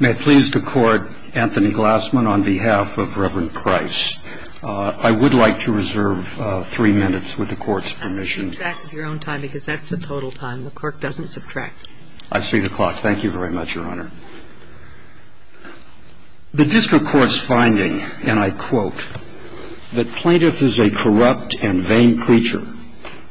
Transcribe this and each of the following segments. May it please the Court, Anthony Glassman on behalf of Reverend Price, I would like to reserve three minutes with the Court's permission. That's your own time because that's the total time. The clerk doesn't subtract. I see the clock. Thank you very much, Your Honor. The district court's finding, and I quote, that plaintiff is a corrupt and vain creature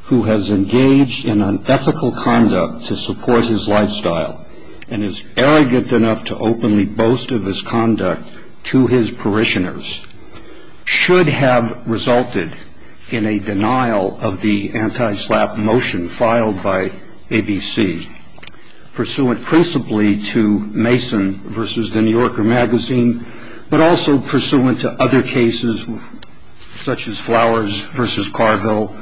who has engaged in unethical conduct to support his lifestyle and is arrogant enough to openly boast of his conduct to his parishioners should have resulted in a denial of the anti-SLAPP motion filed by ABC pursuant principally to Mason v. The New Yorker magazine but also pursuant to other cases such as Flowers v. Carville,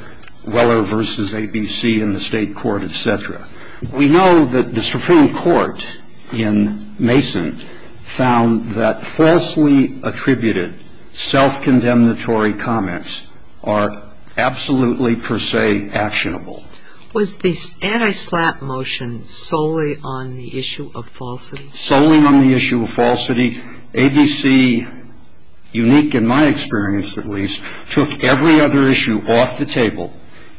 Weller v. ABC in the state court, etc. We know that the Supreme Court in Mason found that falsely attributed self-condemnatory comments are absolutely per se actionable. Was the anti-SLAPP motion solely on the issue of falsity? Solely on the issue of falsity. ABC, unique in my experience at least, took every other issue off the table,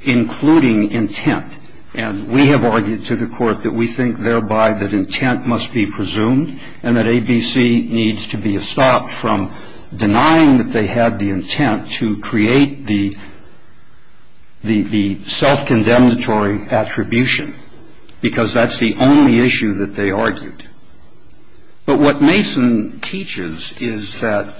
including intent. And we have argued to the Court that we think thereby that intent must be presumed and that ABC needs to be stopped from denying that they had the intent to create the self-condemnatory attribution because that's the only issue that they argued. But what Mason teaches is that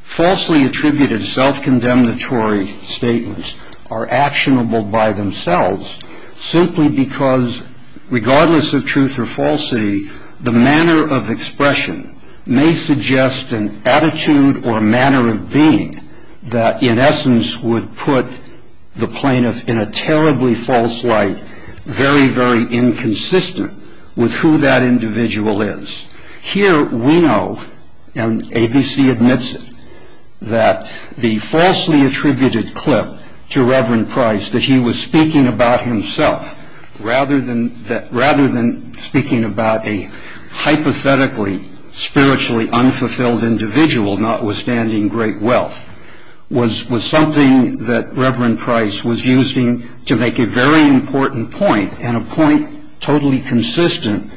falsely attributed self-condemnatory statements are actionable by themselves simply because regardless of truth or falsity, the manner of expression may suggest an attitude or manner of being that in essence would put the plaintiff in a terribly false light, very, very inconsistent with who that individual is. Here we know, and ABC admits it, that the falsely attributed clip to Reverend Price that he was speaking about himself rather than speaking about a hypothetically spiritually unfulfilled individual notwithstanding great wealth was something that Reverend Price was using to make a very important point and a point totally consistent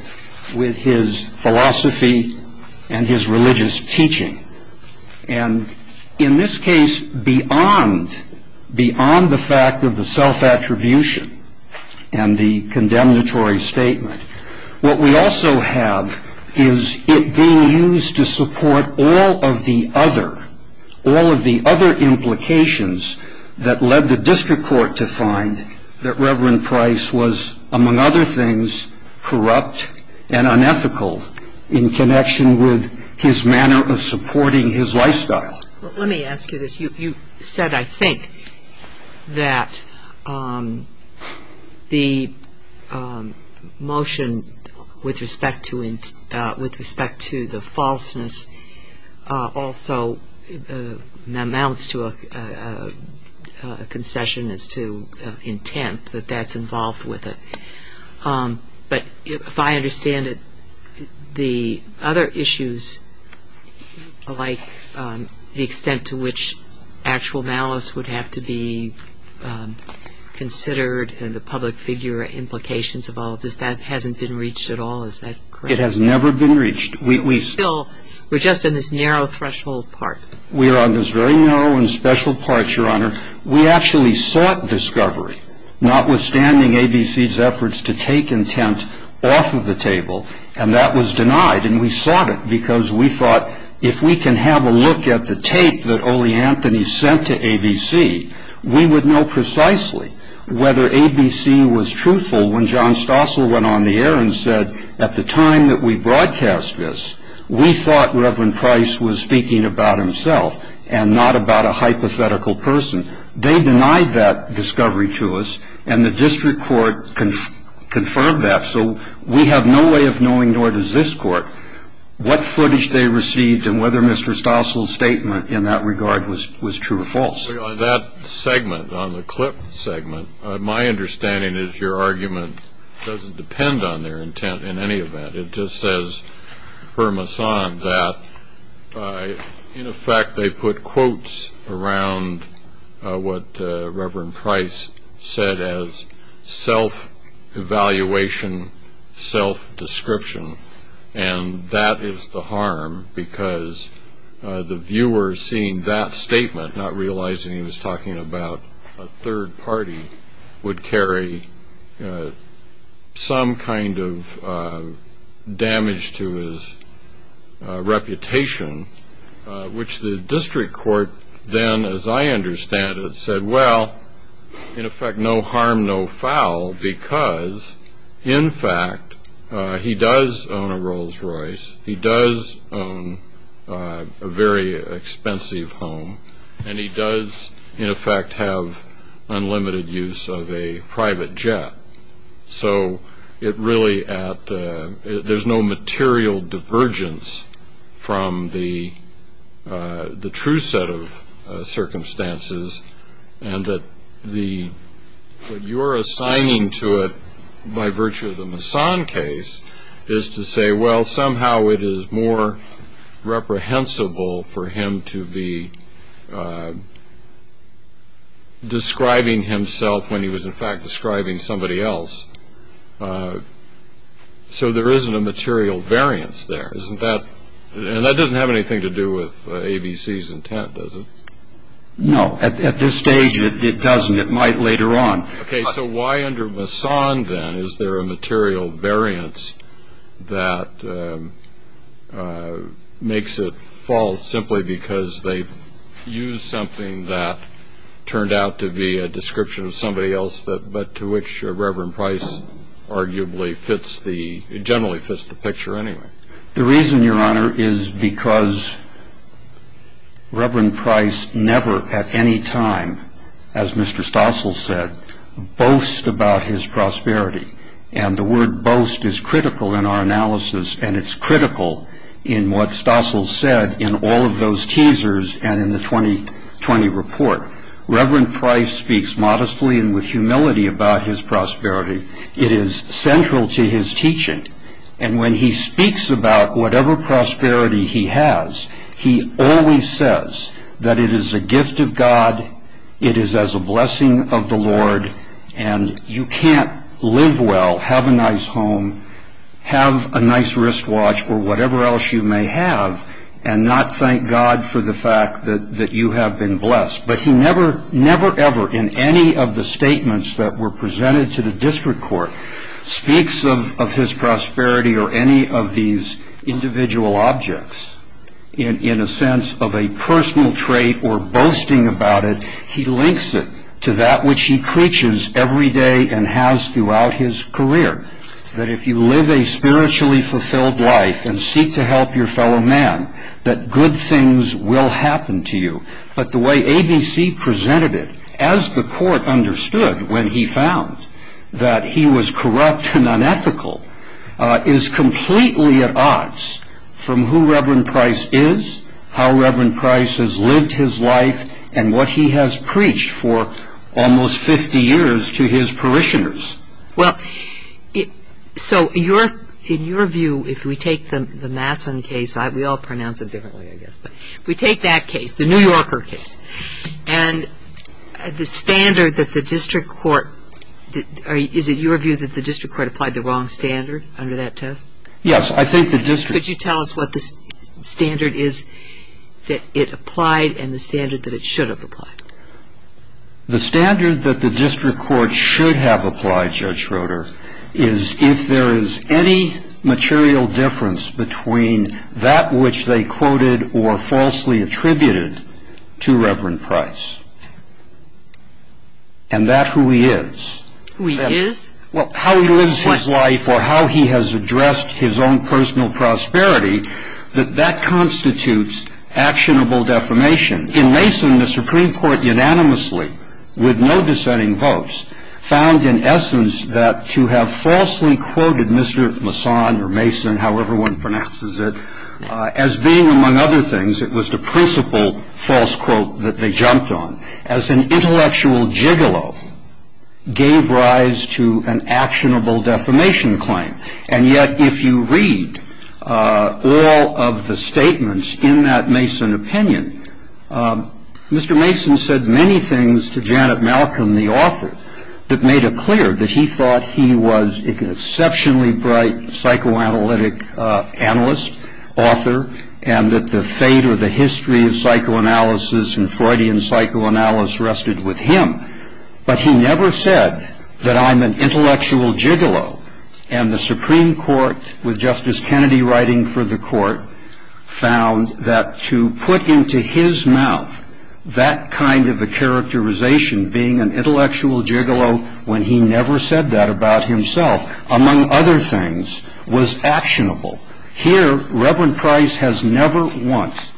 with his philosophy and his religious teaching. And in this case, beyond the fact of the self-attribution and the condemnatory statement, what we also have is it being used to support all of the other, all of the other implications that led the district court to find that Reverend Price was, among other things, corrupt and unethical in connection with his manner of supporting his lifestyle. Let me ask you this. You said, I think, that the motion with respect to the falseness also amounts to a concession as to intent, that that's involved with it. But if I understand it, the other issues, like the extent to which actual malice would have to be considered and the public figure implications of all of this, that hasn't been reached at all. Is that correct? It has never been reached. We still, we're just in this narrow threshold part. We are on this very narrow and special part, Your Honor. We actually sought discovery, notwithstanding ABC's efforts to take intent off of the table. And that was denied. And we sought it because we thought if we can have a look at the tape that Ole Anthony sent to ABC, we would know precisely whether ABC was truthful when John Stossel went on the air and said, at the time that we broadcast this, we thought Reverend Price was speaking about himself and not about a hypothetical person. They denied that discovery to us, and the district court confirmed that. So we have no way of knowing, nor does this court, what footage they received and whether Mr. Stossel's statement in that regard was true or false. On that segment, on the clip segment, my understanding is your argument doesn't depend on their intent in any event. It just says, permoisant, that in effect they put quotes around what Reverend Price said as self-evaluation, self-description. And that is the harm because the viewer seeing that statement, not realizing he was talking about a third party, would carry some kind of damage to his reputation, which the district court then, as I understand it, said, well, in effect, no harm, no foul because, in fact, he does own a Rolls Royce. He does own a very expensive home, and he does, in effect, have unlimited use of a private jet. So it really, there's no material divergence from the true set of circumstances, and that what you're assigning to it by virtue of the Mason case is to say, well, somehow it is more reprehensible for him to be describing himself when he was, in fact, describing somebody else. So there isn't a material variance there, isn't that? And that doesn't have anything to do with ABC's intent, does it? No. At this stage, it doesn't. It might later on. Okay, so why under Mason, then, is there a material variance that makes it false simply because they used something that turned out to be a description of somebody else but to which Reverend Price arguably fits the, generally fits the picture anyway? The reason, Your Honor, is because Reverend Price never at any time, as Mr. Stossel said, boasts about his prosperity, and the word boast is critical in our analysis, and it's critical in what Stossel said in all of those teasers and in the 2020 report. Reverend Price speaks modestly and with humility about his prosperity. It is central to his teaching, and when he speaks about whatever prosperity he has, he always says that it is a gift of God, it is as a blessing of the Lord, and you can't live well, have a nice home, have a nice wristwatch, or whatever else you may have, and not thank God for the fact that you have been blessed. But he never, never, ever in any of the statements that were presented to the district court speaks of his prosperity or any of these individual objects in a sense of a personal trait or boasting about it, he links it to that which he preaches every day and has throughout his career, that if you live a spiritually fulfilled life and seek to help your fellow man, that good things will happen to you. But the way ABC presented it, as the court understood when he found that he was corrupt and unethical, is completely at odds from who Reverend Price is, how Reverend Price has lived his life, and what he has preached for almost 50 years to his parishioners. Well, so in your view, if we take the Masson case, we all pronounce it differently I guess, but if we take that case, the New Yorker case, and the standard that the district court, is it your view that the district court applied the wrong standard under that test? Yes, I think the district... Could you tell us what the standard is that it applied and the standard that it should have applied? The standard that the district court should have applied, Judge Schroeder, is if there is any material difference between that which they quoted or falsely attributed to Reverend Price, and that who he is. Who he is? Well, how he lives his life or how he has addressed his own personal prosperity, that that constitutes actionable defamation. In Mason, the Supreme Court unanimously, with no dissenting votes, found in essence that to have falsely quoted Mr. Masson or Mason, however one pronounces it, as being among other things, it was the principal false quote that they jumped on, as an intellectual gigolo, gave rise to an actionable defamation claim. And yet, if you read all of the statements in that Mason opinion, Mr. Mason said many things to Janet Malcolm, the author, that made it clear that he thought he was an exceptionally bright psychoanalytic analyst, author, and that the fate or the history of psychoanalysis and Freudian psychoanalysis rested with him. But he never said that I'm an intellectual gigolo. And the Supreme Court, with Justice Kennedy writing for the court, found that to put into his mouth that kind of a characterization, being an intellectual gigolo when he never said that about himself, among other things, was actionable. Here, Reverend Price has never once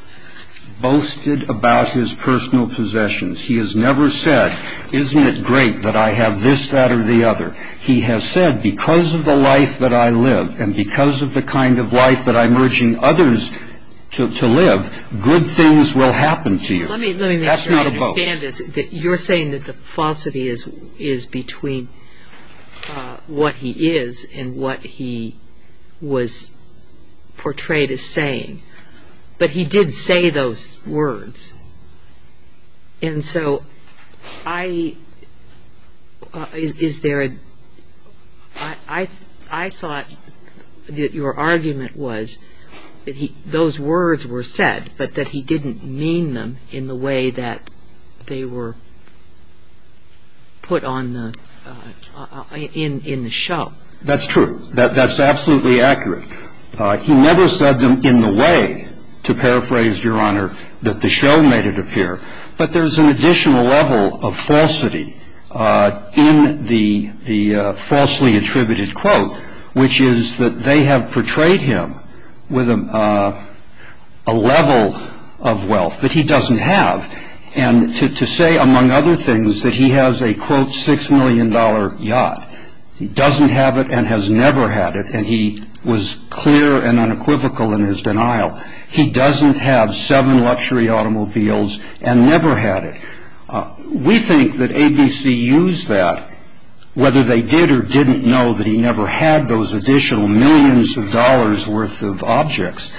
boasted about his personal possessions. He has never said, isn't it great that I have this, that, or the other. He has said, because of the life that I live, and because of the kind of life that I'm urging others to live, good things will happen to you. That's not a boast. Let me make sure I understand this. You're saying that the falsity is between what he is and what he was portrayed as saying. But he did say those words. And so I thought that your argument was that those words were said, but that he didn't mean them in the way that they were put in the show. That's true. That's absolutely accurate. He never said them in the way, to paraphrase, Your Honor, that the show made it appear. But there's an additional level of falsity in the falsely attributed quote, which is that they have portrayed him with a level of wealth that he doesn't have, and to say, among other things, that he has a, quote, $6 million yacht. He doesn't have it and has never had it. And he was clear and unequivocal in his denial. He doesn't have seven luxury automobiles and never had it. We think that ABC used that, whether they did or didn't know, that he never had those additional millions of dollars worth of objects,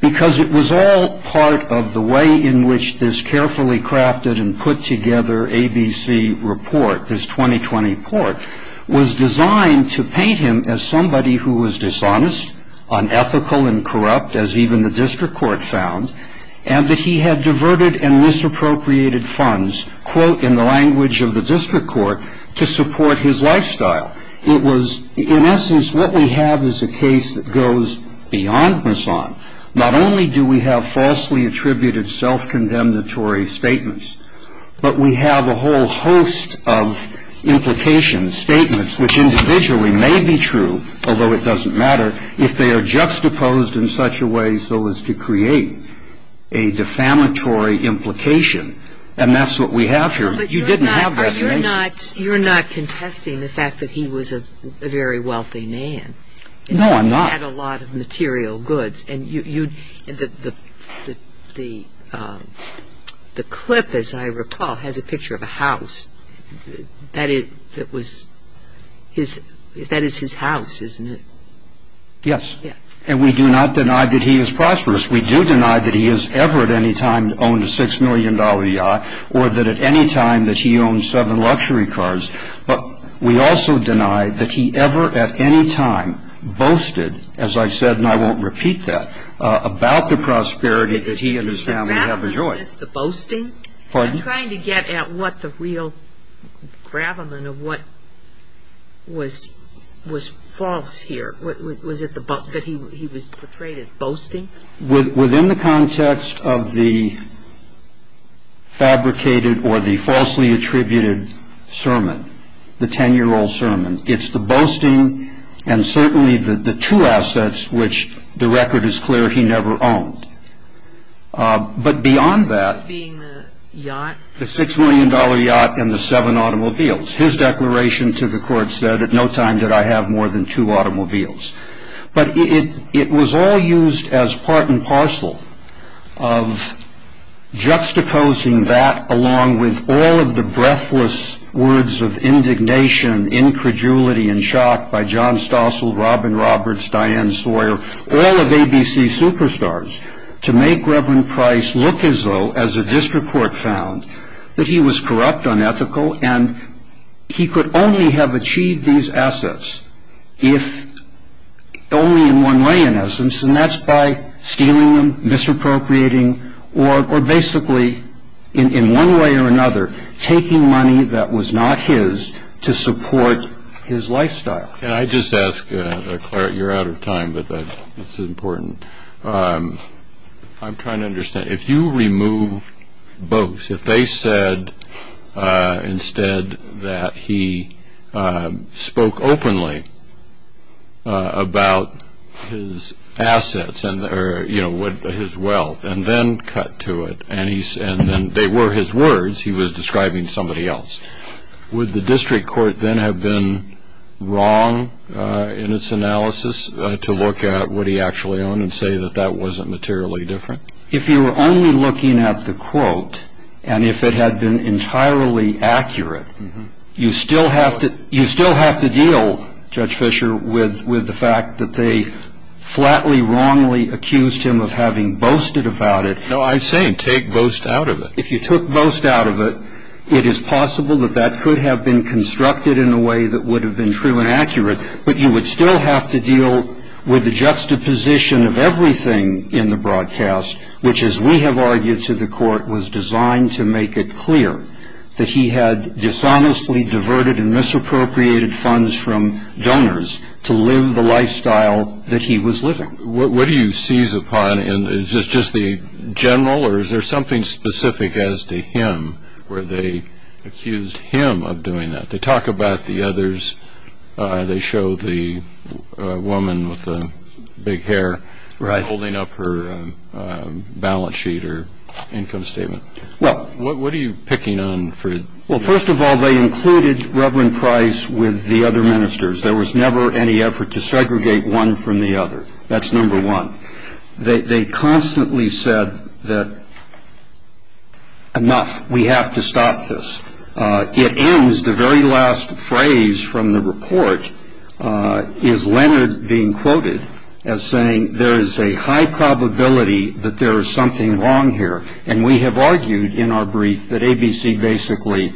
because it was all part of the way in which this carefully crafted and put together ABC report, this 2020 report, was designed to paint him as somebody who was dishonest, unethical, and corrupt, as even the district court found, and that he had diverted and misappropriated funds, quote, in the language of the district court, to support his lifestyle. It was, in essence, what we have is a case that goes beyond Misson. Not only do we have falsely attributed self-condemnatory statements, but we have a whole host of implications, statements, which individually may be true, although it doesn't matter, if they are juxtaposed in such a way so as to create a defamatory implication. And that's what we have here. You didn't have that, did you? But you're not contesting the fact that he was a very wealthy man. No, I'm not. And he had a lot of material goods. The clip, as I recall, has a picture of a house. That is his house, isn't it? Yes. And we do not deny that he is prosperous. We do deny that he has ever at any time owned a $6 million yacht or that at any time that he owned seven luxury cars. But we also deny that he ever at any time boasted, as I've said, and I won't repeat that, about the prosperity that he and his family have enjoyed. The boasting? Pardon? I'm trying to get at what the real gravamen of what was false here. Was it that he was portrayed as boasting? Within the context of the fabricated or the falsely attributed sermon, the 10-year-old sermon, it's the boasting and certainly the two assets which the record is clear he never owned. But beyond that, the $6 million yacht and the seven automobiles, his declaration to the court said, at no time did I have more than two automobiles. But it was all used as part and parcel of juxtaposing that along with all of the breathless words of indignation, incredulity, and shock by John Stossel, Robin Roberts, Diane Sawyer, all of ABC's superstars, to make Reverend Price look as though, as a district court found, that he was corrupt, unethical, and he could only have achieved these assets if only in one way, in essence, and that's by stealing them, misappropriating, or basically, in one way or another, taking money that was not his to support his lifestyle. Can I just ask, Claret, you're out of time, but it's important. I'm trying to understand. If you remove both, if they said instead that he spoke openly about his assets or his wealth and then cut to it and they were his words, he was describing somebody else, would the district court then have been wrong in its analysis to look at what he actually owned and say that that wasn't materially different? If you were only looking at the quote and if it had been entirely accurate, you still have to deal, Judge Fischer, with the fact that they flatly, wrongly accused him of having boasted about it. No, I'm saying take boast out of it. If you took boast out of it, it is possible that that could have been constructed in a way that would have been true and accurate, but you would still have to deal with the juxtaposition of everything in the broadcast, which, as we have argued to the court, was designed to make it clear that he had dishonestly diverted and misappropriated funds from donors to live the lifestyle that he was living. What do you seize upon? Is this just the general or is there something specific as to him where they accused him of doing that? They talk about the others. They show the woman with the big hair holding up her balance sheet or income statement. What are you picking on? Well, first of all, they included Reverend Price with the other ministers. There was never any effort to segregate one from the other. That's number one. They constantly said that enough, we have to stop this. It ends, the very last phrase from the report is Leonard being quoted as saying, there is a high probability that there is something wrong here, and we have argued in our brief that ABC basically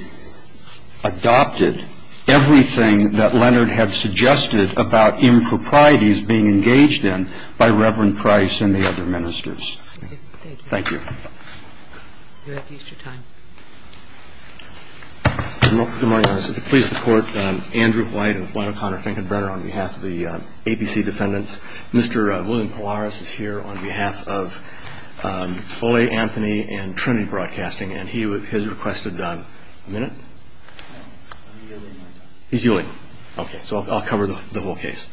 adopted everything that Leonard had suggested about improprieties being engaged in by Reverend Price and the other ministers. Thank you. You're at Easter time. Good morning, Your Honor. I seek the pleas of the Court. Andrew White and Wynne O'Connor, Fink and Brenner on behalf of the ABC defendants. Mr. William Polaris is here on behalf of Ole Anthony and Trinity Broadcasting, and he has requested a minute? He's yielding. Okay. So I'll cover the whole case.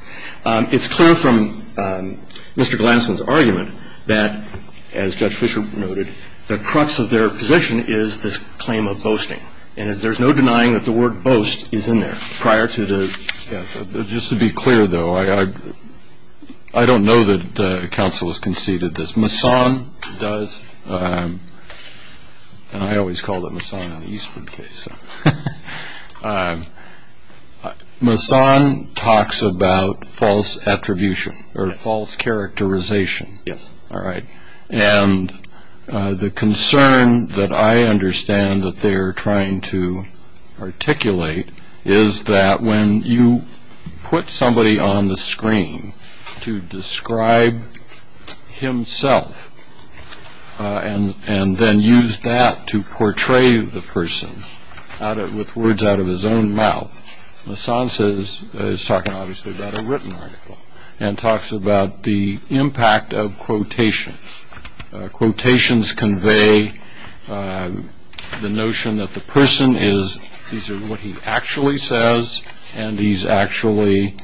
It's clear from Mr. Glassman's argument that, as Judge Fischer noted, the crux of their position is this claim of boasting, and there's no denying that the word boast is in there prior to the. Just to be clear, though, I don't know that counsel has conceded this. Mason does, and I always called it Mason in the Eastman case. Mason talks about false attribution or false characterization. Yes. All right. And the concern that I understand that they're trying to articulate is that when you put somebody on the screen to describe himself and then use that to portray the person with words out of his own mouth, Mason is talking obviously about a written article and talks about the impact of quotations. Quotations convey the notion that the person is, these are what he actually says, and he's actually,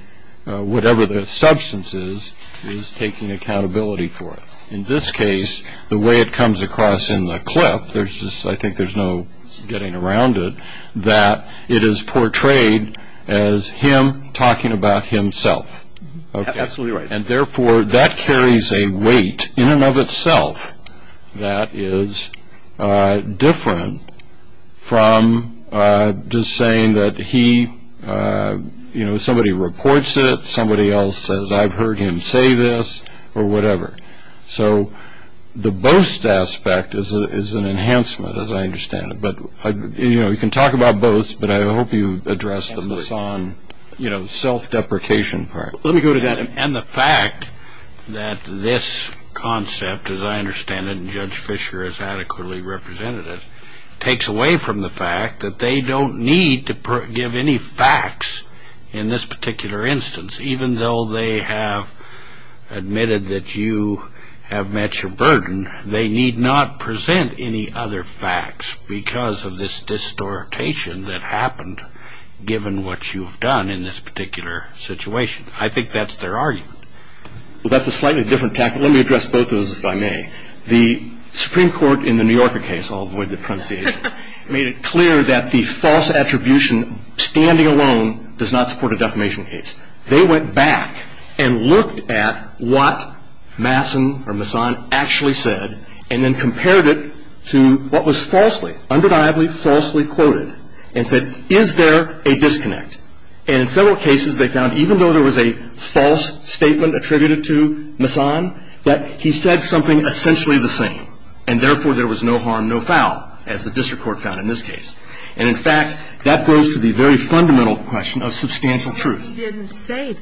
whatever the substance is, is taking accountability for it. In this case, the way it comes across in the clip, I think there's no getting around it, that it is portrayed as him talking about himself. Absolutely right. And, therefore, that carries a weight in and of itself that is different from just saying that he, you know, somebody reports it, somebody else says, I've heard him say this, or whatever. So the boast aspect is an enhancement, as I understand it. But, you know, you can talk about boast, but I hope you address the Mason, you know, self-deprecation part. Let me go to that. And the fact that this concept, as I understand it, and Judge Fischer has adequately represented it, takes away from the fact that they don't need to give any facts in this particular instance. Even though they have admitted that you have met your burden, they need not present any other facts because of this distortation that happened, given what you've done in this particular situation. I think that's their argument. Well, that's a slightly different tactic. Let me address both of those, if I may. The Supreme Court in the New Yorker case, I'll avoid the parentheses, made it clear that the false attribution standing alone does not support a defamation case. They went back and looked at what Mason actually said, and then compared it to what was falsely, undeniably falsely quoted, and said, is there a disconnect? And in several cases they found, even though there was a false statement attributed to Mason, that he said something essentially the same, and therefore there was no harm, no foul, as the district court found in this case. And, in fact, that goes to the very fundamental question of substantial truth. He didn't say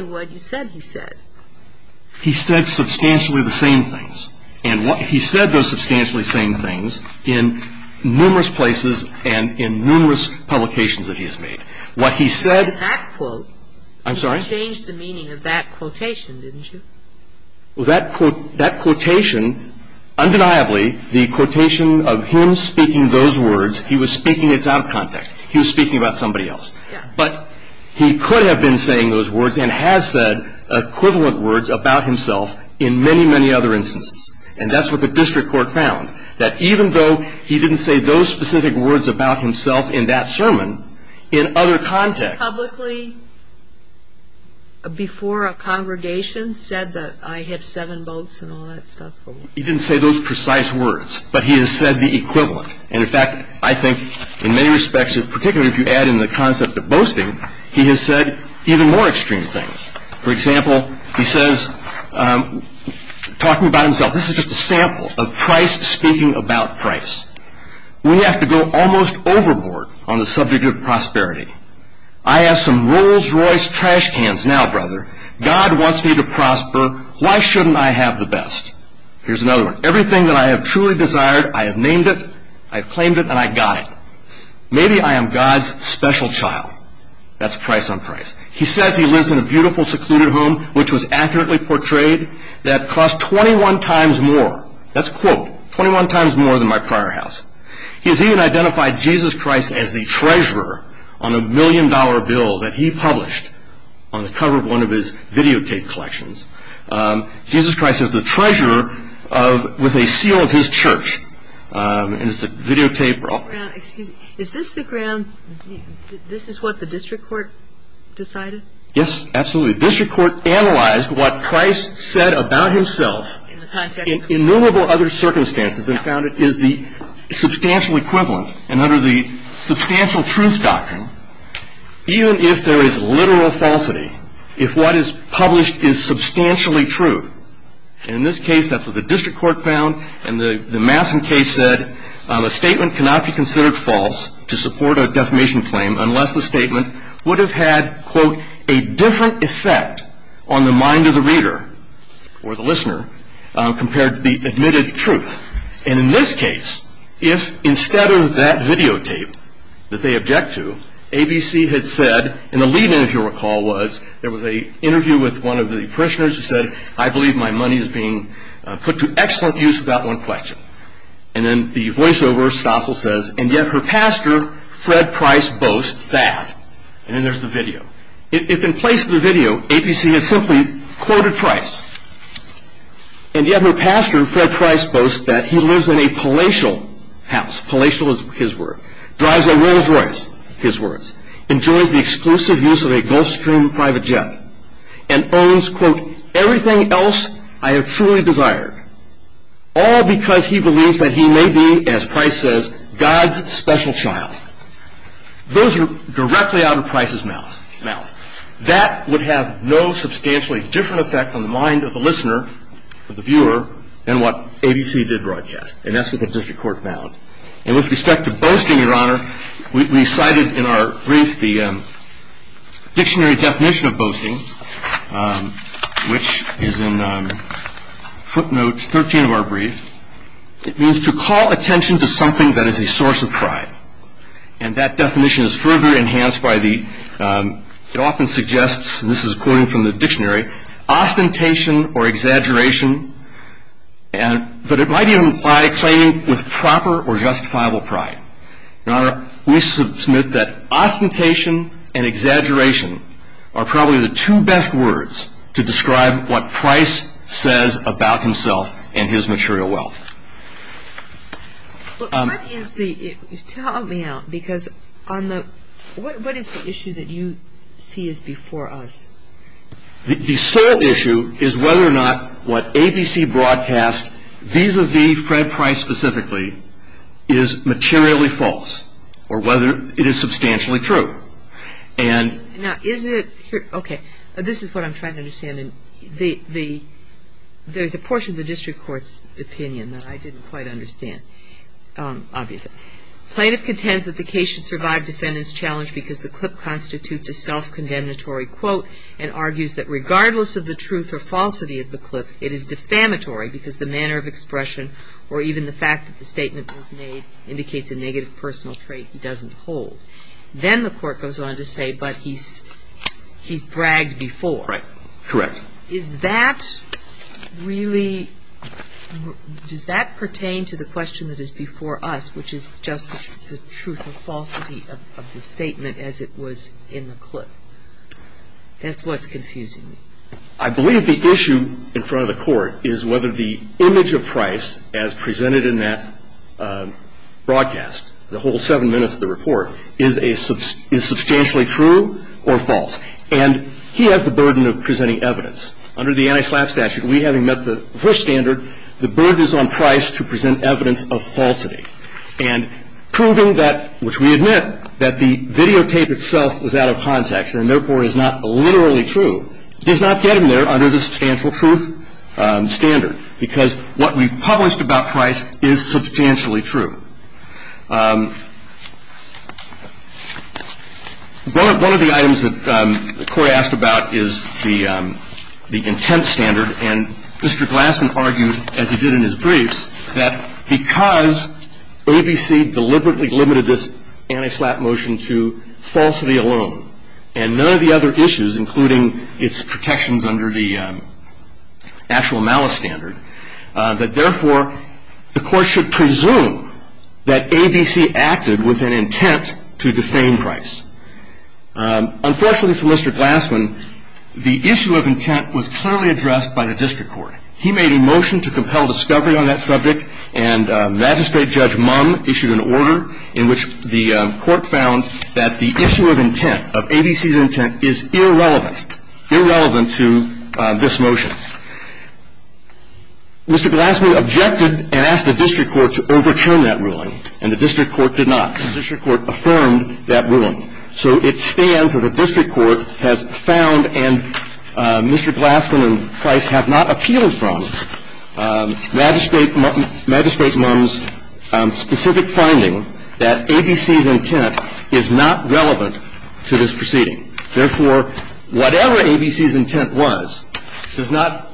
what you said he said. He said substantially the same things. And he said those substantially same things in numerous places and in numerous publications that he has made. What he said — That quote — I'm sorry? You changed the meaning of that quotation, didn't you? Well, that quotation, undeniably, the quotation of him speaking those words, he was speaking it out of context. He was speaking about somebody else. Yes. But he could have been saying those words and has said equivalent words about himself in many, many other instances. And that's what the district court found, that even though he didn't say those specific words about himself in that sermon, in other contexts — Publicly, before a congregation, said that I have seven votes and all that stuff. He didn't say those precise words, but he has said the equivalent. And, in fact, I think in many respects, particularly if you add in the concept of boasting, he has said even more extreme things. For example, he says, talking about himself, this is just a sample of Price speaking about Price. We have to go almost overboard on the subject of prosperity. I have some Rolls-Royce trash cans now, brother. God wants me to prosper. Why shouldn't I have the best? Here's another one. Everything that I have truly desired, I have named it, I have claimed it, and I got it. Maybe I am God's special child. That's Price on Price. He says he lives in a beautiful secluded home, which was accurately portrayed, that costs 21 times more. That's a quote. 21 times more than my prior house. He has even identified Jesus Christ as the treasurer on a million-dollar bill that he published on the cover of one of his videotape collections. Jesus Christ is the treasurer with a seal of his church. And it's a videotape roll. Excuse me. Is this the ground? This is what the district court decided? Yes, absolutely. The district court analyzed what Price said about himself in innumerable other circumstances and found it is the substantial equivalent, and under the substantial truth doctrine, even if there is literal falsity, if what is published is substantially true. And in this case, that's what the district court found, and the Mason case said a statement cannot be considered false to support a defamation claim unless the statement would have had, quote, a different effect on the mind of the reader or the listener compared to the admitted truth. And in this case, if instead of that videotape that they object to, ABC had said, and the lead-in, if you'll recall, was there was an interview with one of the parishioners who said, I believe my money is being put to excellent use without one question. And then the voiceover, Stossel says, and yet her pastor, Fred Price, boasts that. And then there's the video. If in place of the video, ABC had simply quoted Price, and yet her pastor, Fred Price, boasts that he lives in a palatial house, palatial is his word, drives a Rolls Royce, his words, enjoys the exclusive use of a Gulfstream private jet, and owns, quote, everything else I have truly desired, all because he believes that he may be, as Price says, God's special child. Those are directly out of Price's mouth. That would have no substantially different effect on the mind of the listener or the viewer than what ABC did broadcast, and that's what the district court found. And with respect to boasting, Your Honor, we cited in our brief the dictionary definition of boasting, which is in footnote 13 of our brief. It means to call attention to something that is a source of pride, and that definition is further enhanced by the, it often suggests, and this is a quote from the dictionary, ostentation or exaggeration, but it might even imply claiming with proper or justifiable pride. Your Honor, we submit that ostentation and exaggeration are probably the two best words to describe what Price says about himself and his material wealth. What is the, tell me now, because on the, what is the issue that you see is before us? The sole issue is whether or not what ABC broadcast vis-à-vis Fred Price specifically is materially false or whether it is substantially true. And now, is it, okay, this is what I'm trying to understand. There's a portion of the district court's opinion that I didn't quite understand, obviously. Plaintiff contends that the case should survive defendant's challenge because the clip constitutes a self-condemnatory quote and argues that regardless of the truth or falsity of the clip, it is defamatory because the manner of expression or even the fact that the statement was made indicates a negative personal trait he doesn't hold. Then the court goes on to say, but he's bragged before. Right. Correct. Is that really, does that pertain to the question that is before us, which is just the truth or falsity of the statement as it was in the clip? That's what's confusing me. I believe the issue in front of the Court is whether the image of Price as presented in that broadcast, the whole seven minutes of the report, is a, is substantially true or false. And he has the burden of presenting evidence. Under the anti-SLAPP statute, we having met the Bush standard, the burden is on Price to present evidence of falsity. And proving that, which we admit, that the videotape itself is out of context and therefore is not literally true, does not get him there under the substantial truth standard because what we published about Price is substantially true. One of the items that the Court asked about is the intent standard, and Mr. Glassman argued, as he did in his briefs, that because ABC deliberately limited this anti-SLAPP motion to falsity alone and none of the other issues, including its protections under the actual malice standard, that therefore the Court should presume that ABC acted with an intent to defame Price. Unfortunately for Mr. Glassman, the issue of intent was clearly addressed by the District Court. He made a motion to compel discovery on that subject, and Magistrate Judge Mumm issued an order in which the Court found that the issue of intent, of ABC's intent, is irrelevant, irrelevant to this motion. Mr. Glassman objected and asked the District Court to overturn that ruling, and the District Court did not. The District Court affirmed that ruling. So it stands that the District Court has found and Mr. Glassman and Price have not appealed from Magistrate Mumm's specific finding that ABC's intent is not relevant to this proceeding. Therefore, whatever ABC's intent was does not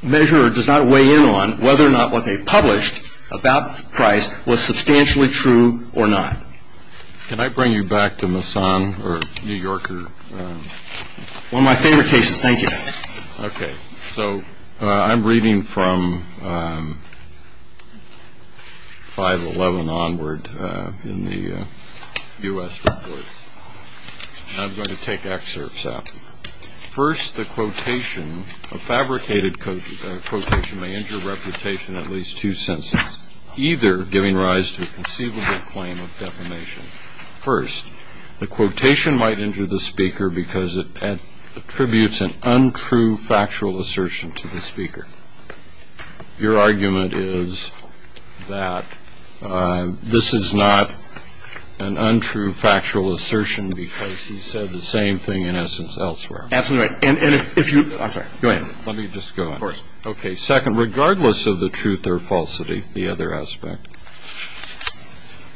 measure or does not weigh in on whether or not what they published about Price was substantially true or not. Can I bring you back to Masson or New Yorker? One of my favorite cases. Thank you. Okay. So I'm reading from 511 onward in the U.S. report. And I'm going to take excerpts out. First, the quotation, a fabricated quotation may injure reputation at least two sentences, either giving rise to a conceivable claim of defamation. First, the quotation might injure the speaker because it attributes an untrue factual assertion to the speaker. Your argument is that this is not an untrue factual assertion because he said the same thing in essence elsewhere. Absolutely right. And if you go ahead. Let me just go in. Of course. Okay. Second, regardless of the truth or falsity, the other aspect,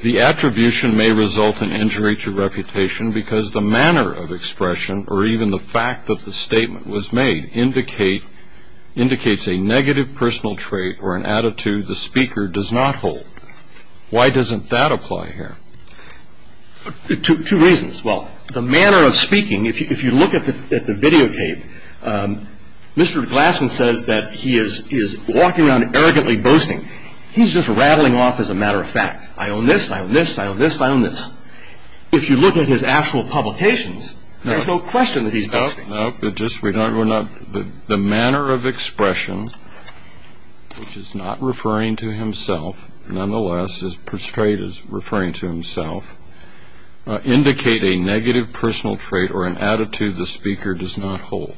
the attribution may result in injury to reputation because the manner of expression or even the fact that the statement was made indicates a negative personal trait or an attitude the speaker does not hold. Why doesn't that apply here? Two reasons. Well, the manner of speaking, if you look at the videotape, Mr. Glassman says that he is walking around arrogantly boasting. He's just rattling off as a matter of fact. I own this. I own this. I own this. I own this. If you look at his actual publications, there's no question that he's boasting. No. No. We're not. The manner of expression, which is not referring to himself, nonetheless, referring to himself, indicate a negative personal trait or an attitude the speaker does not hold.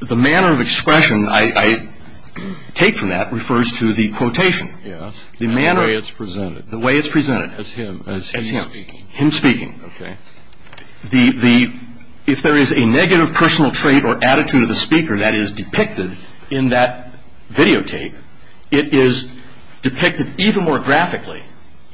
The manner of expression I take from that refers to the quotation. Yes. The manner. The way it's presented. The way it's presented. As him. As him. As him speaking. Him speaking. Okay. If there is a negative personal trait or attitude of the speaker that is depicted in that videotape, it is depicted even more graphically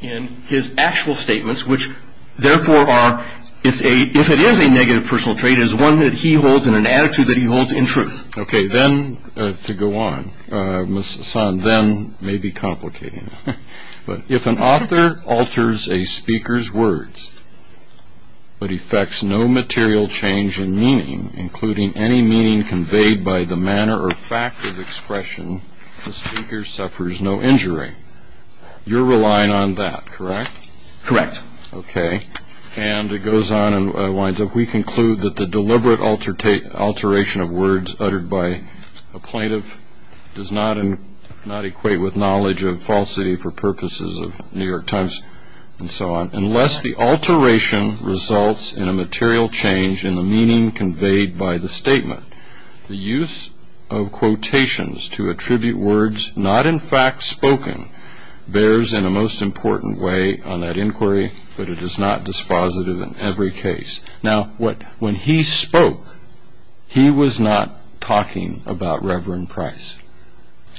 in his actual statements, which, therefore, are, if it is a negative personal trait, it is one that he holds and an attitude that he holds in truth. Okay. Then, to go on, Mr. Sahn, then may be complicating it. But if an author alters a speaker's words but effects no material change in meaning, including any meaning conveyed by the manner or fact of expression, the speaker suffers no injury. You're relying on that, correct? Correct. Okay. And it goes on and winds up, we conclude that the deliberate alteration of words uttered by a plaintiff does not equate with knowledge of falsity for purposes of New York Times and so on, unless the alteration results in a material change in the meaning conveyed by the statement. The use of quotations to attribute words not in fact spoken bears in a most important way on that inquiry, but it is not dispositive in every case. Now, when he spoke, he was not talking about Reverend Price.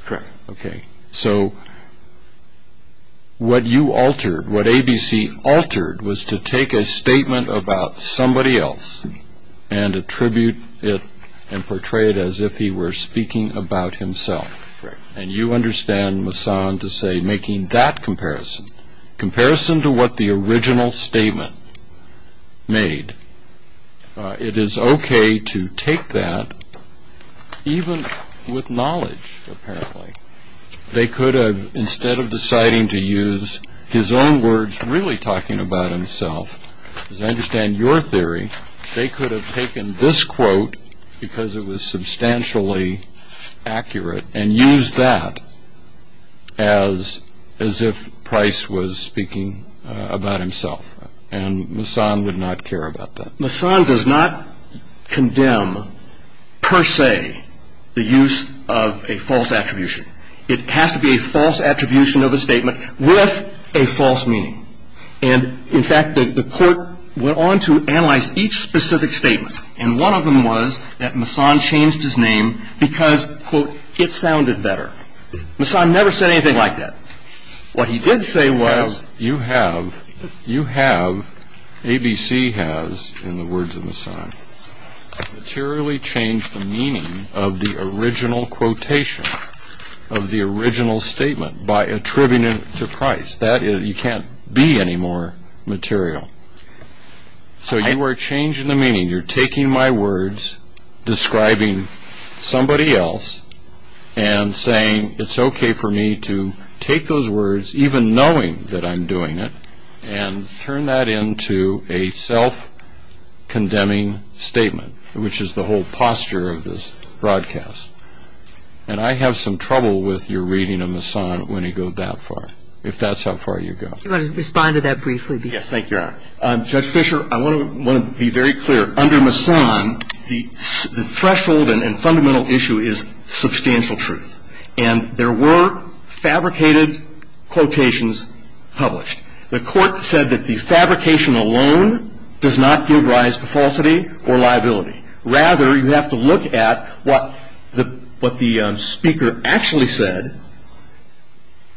Correct. Okay. So, what you altered, what ABC altered, was to take a statement about somebody else and attribute it and portray it as if he were speaking about himself. Correct. And you understand, Masson, to say making that comparison, comparison to what the original statement made. It is okay to take that, even with knowledge, apparently. They could have, instead of deciding to use his own words really talking about himself, as I understand your theory, they could have taken this quote, because it was substantially accurate, and used that as if Price was speaking about himself. And Masson would not care about that. Masson does not condemn, per se, the use of a false attribution. It has to be a false attribution of a statement with a false meaning. And, in fact, the court went on to analyze each specific statement, and one of them was that Masson changed his name because, quote, it sounded better. Masson never said anything like that. What he did say was you have, you have, ABC has, in the words of Masson, materially changed the meaning of the original quotation, of the original statement, by attributing it to Price. That, you can't be any more material. So you are changing the meaning. You're taking my words, describing somebody else, and saying it's okay for me to take those words, even knowing that I'm doing it, and turn that into a self-condemning statement, which is the whole posture of this broadcast. And I have some trouble with your reading of Masson when he goes that far, and I have some trouble with your reading of the original quote, if that's how far you go. Do you want to respond to that briefly, please? Yes, thank you, Your Honor. Judge Fischer, I want to be very clear. Under Masson, the threshold and fundamental issue is substantial truth, and there were fabricated quotations published. The court said that the fabrication alone does not give rise to falsity or liability. Rather, you have to look at what the speaker actually said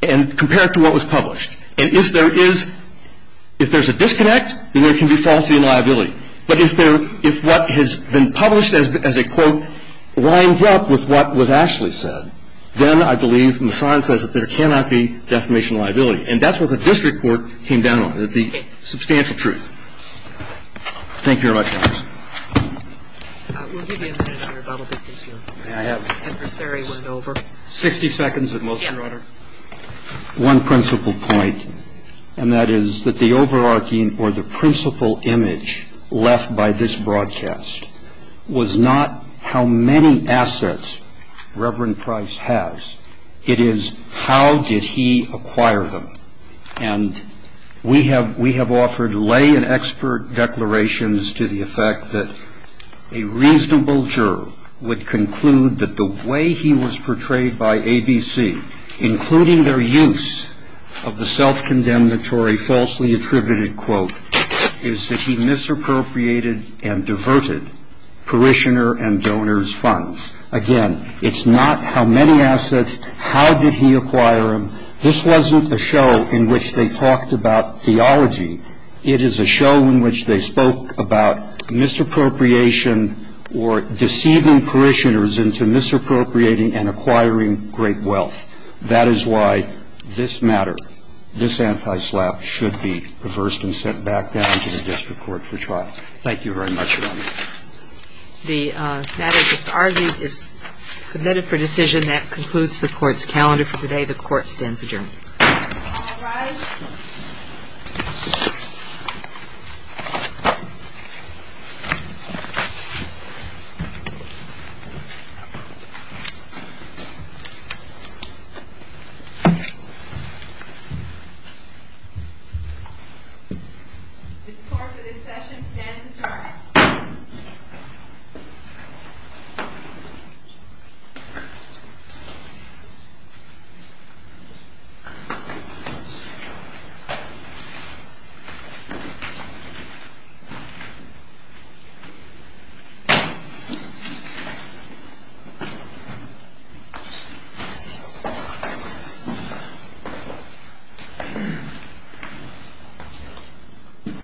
and compare it to what was published. And if there is a disconnect, then there can be falsity and liability. But if what has been published as a quote lines up with what was actually said, then I believe Masson says that there cannot be defamation liability. And that's what the district court came down on, that the substantial truth. Thank you, Your Honor. We'll give you a minute, Your Honor, about a bit of this field. May I have it? The adversary went over. Sixty seconds of motion, Your Honor. Yes. One principal point, and that is that the overarching or the principal image left by this broadcast was not how many assets Reverend Price has. It is how did he acquire them. And we have offered lay and expert declarations to the effect that a reasonable juror would conclude that the way he was portrayed by ABC, including their use of the self-condemnatory falsely attributed quote, is that he misappropriated and diverted parishioner and donor's funds. Again, it's not how many assets, how did he acquire them. This wasn't a show in which they talked about theology. It is a show in which they spoke about misappropriation or deceiving parishioners into misappropriating and acquiring great wealth. That is why this matter, this antislap should be reversed and sent back down to the district court for trial. Thank you very much, Your Honor. The matter just argued is submitted for decision. That concludes the court's calendar for today. The court stands adjourned. All rise. Ms. Clark, for this session, stands adjourned. Thank you, Your Honor.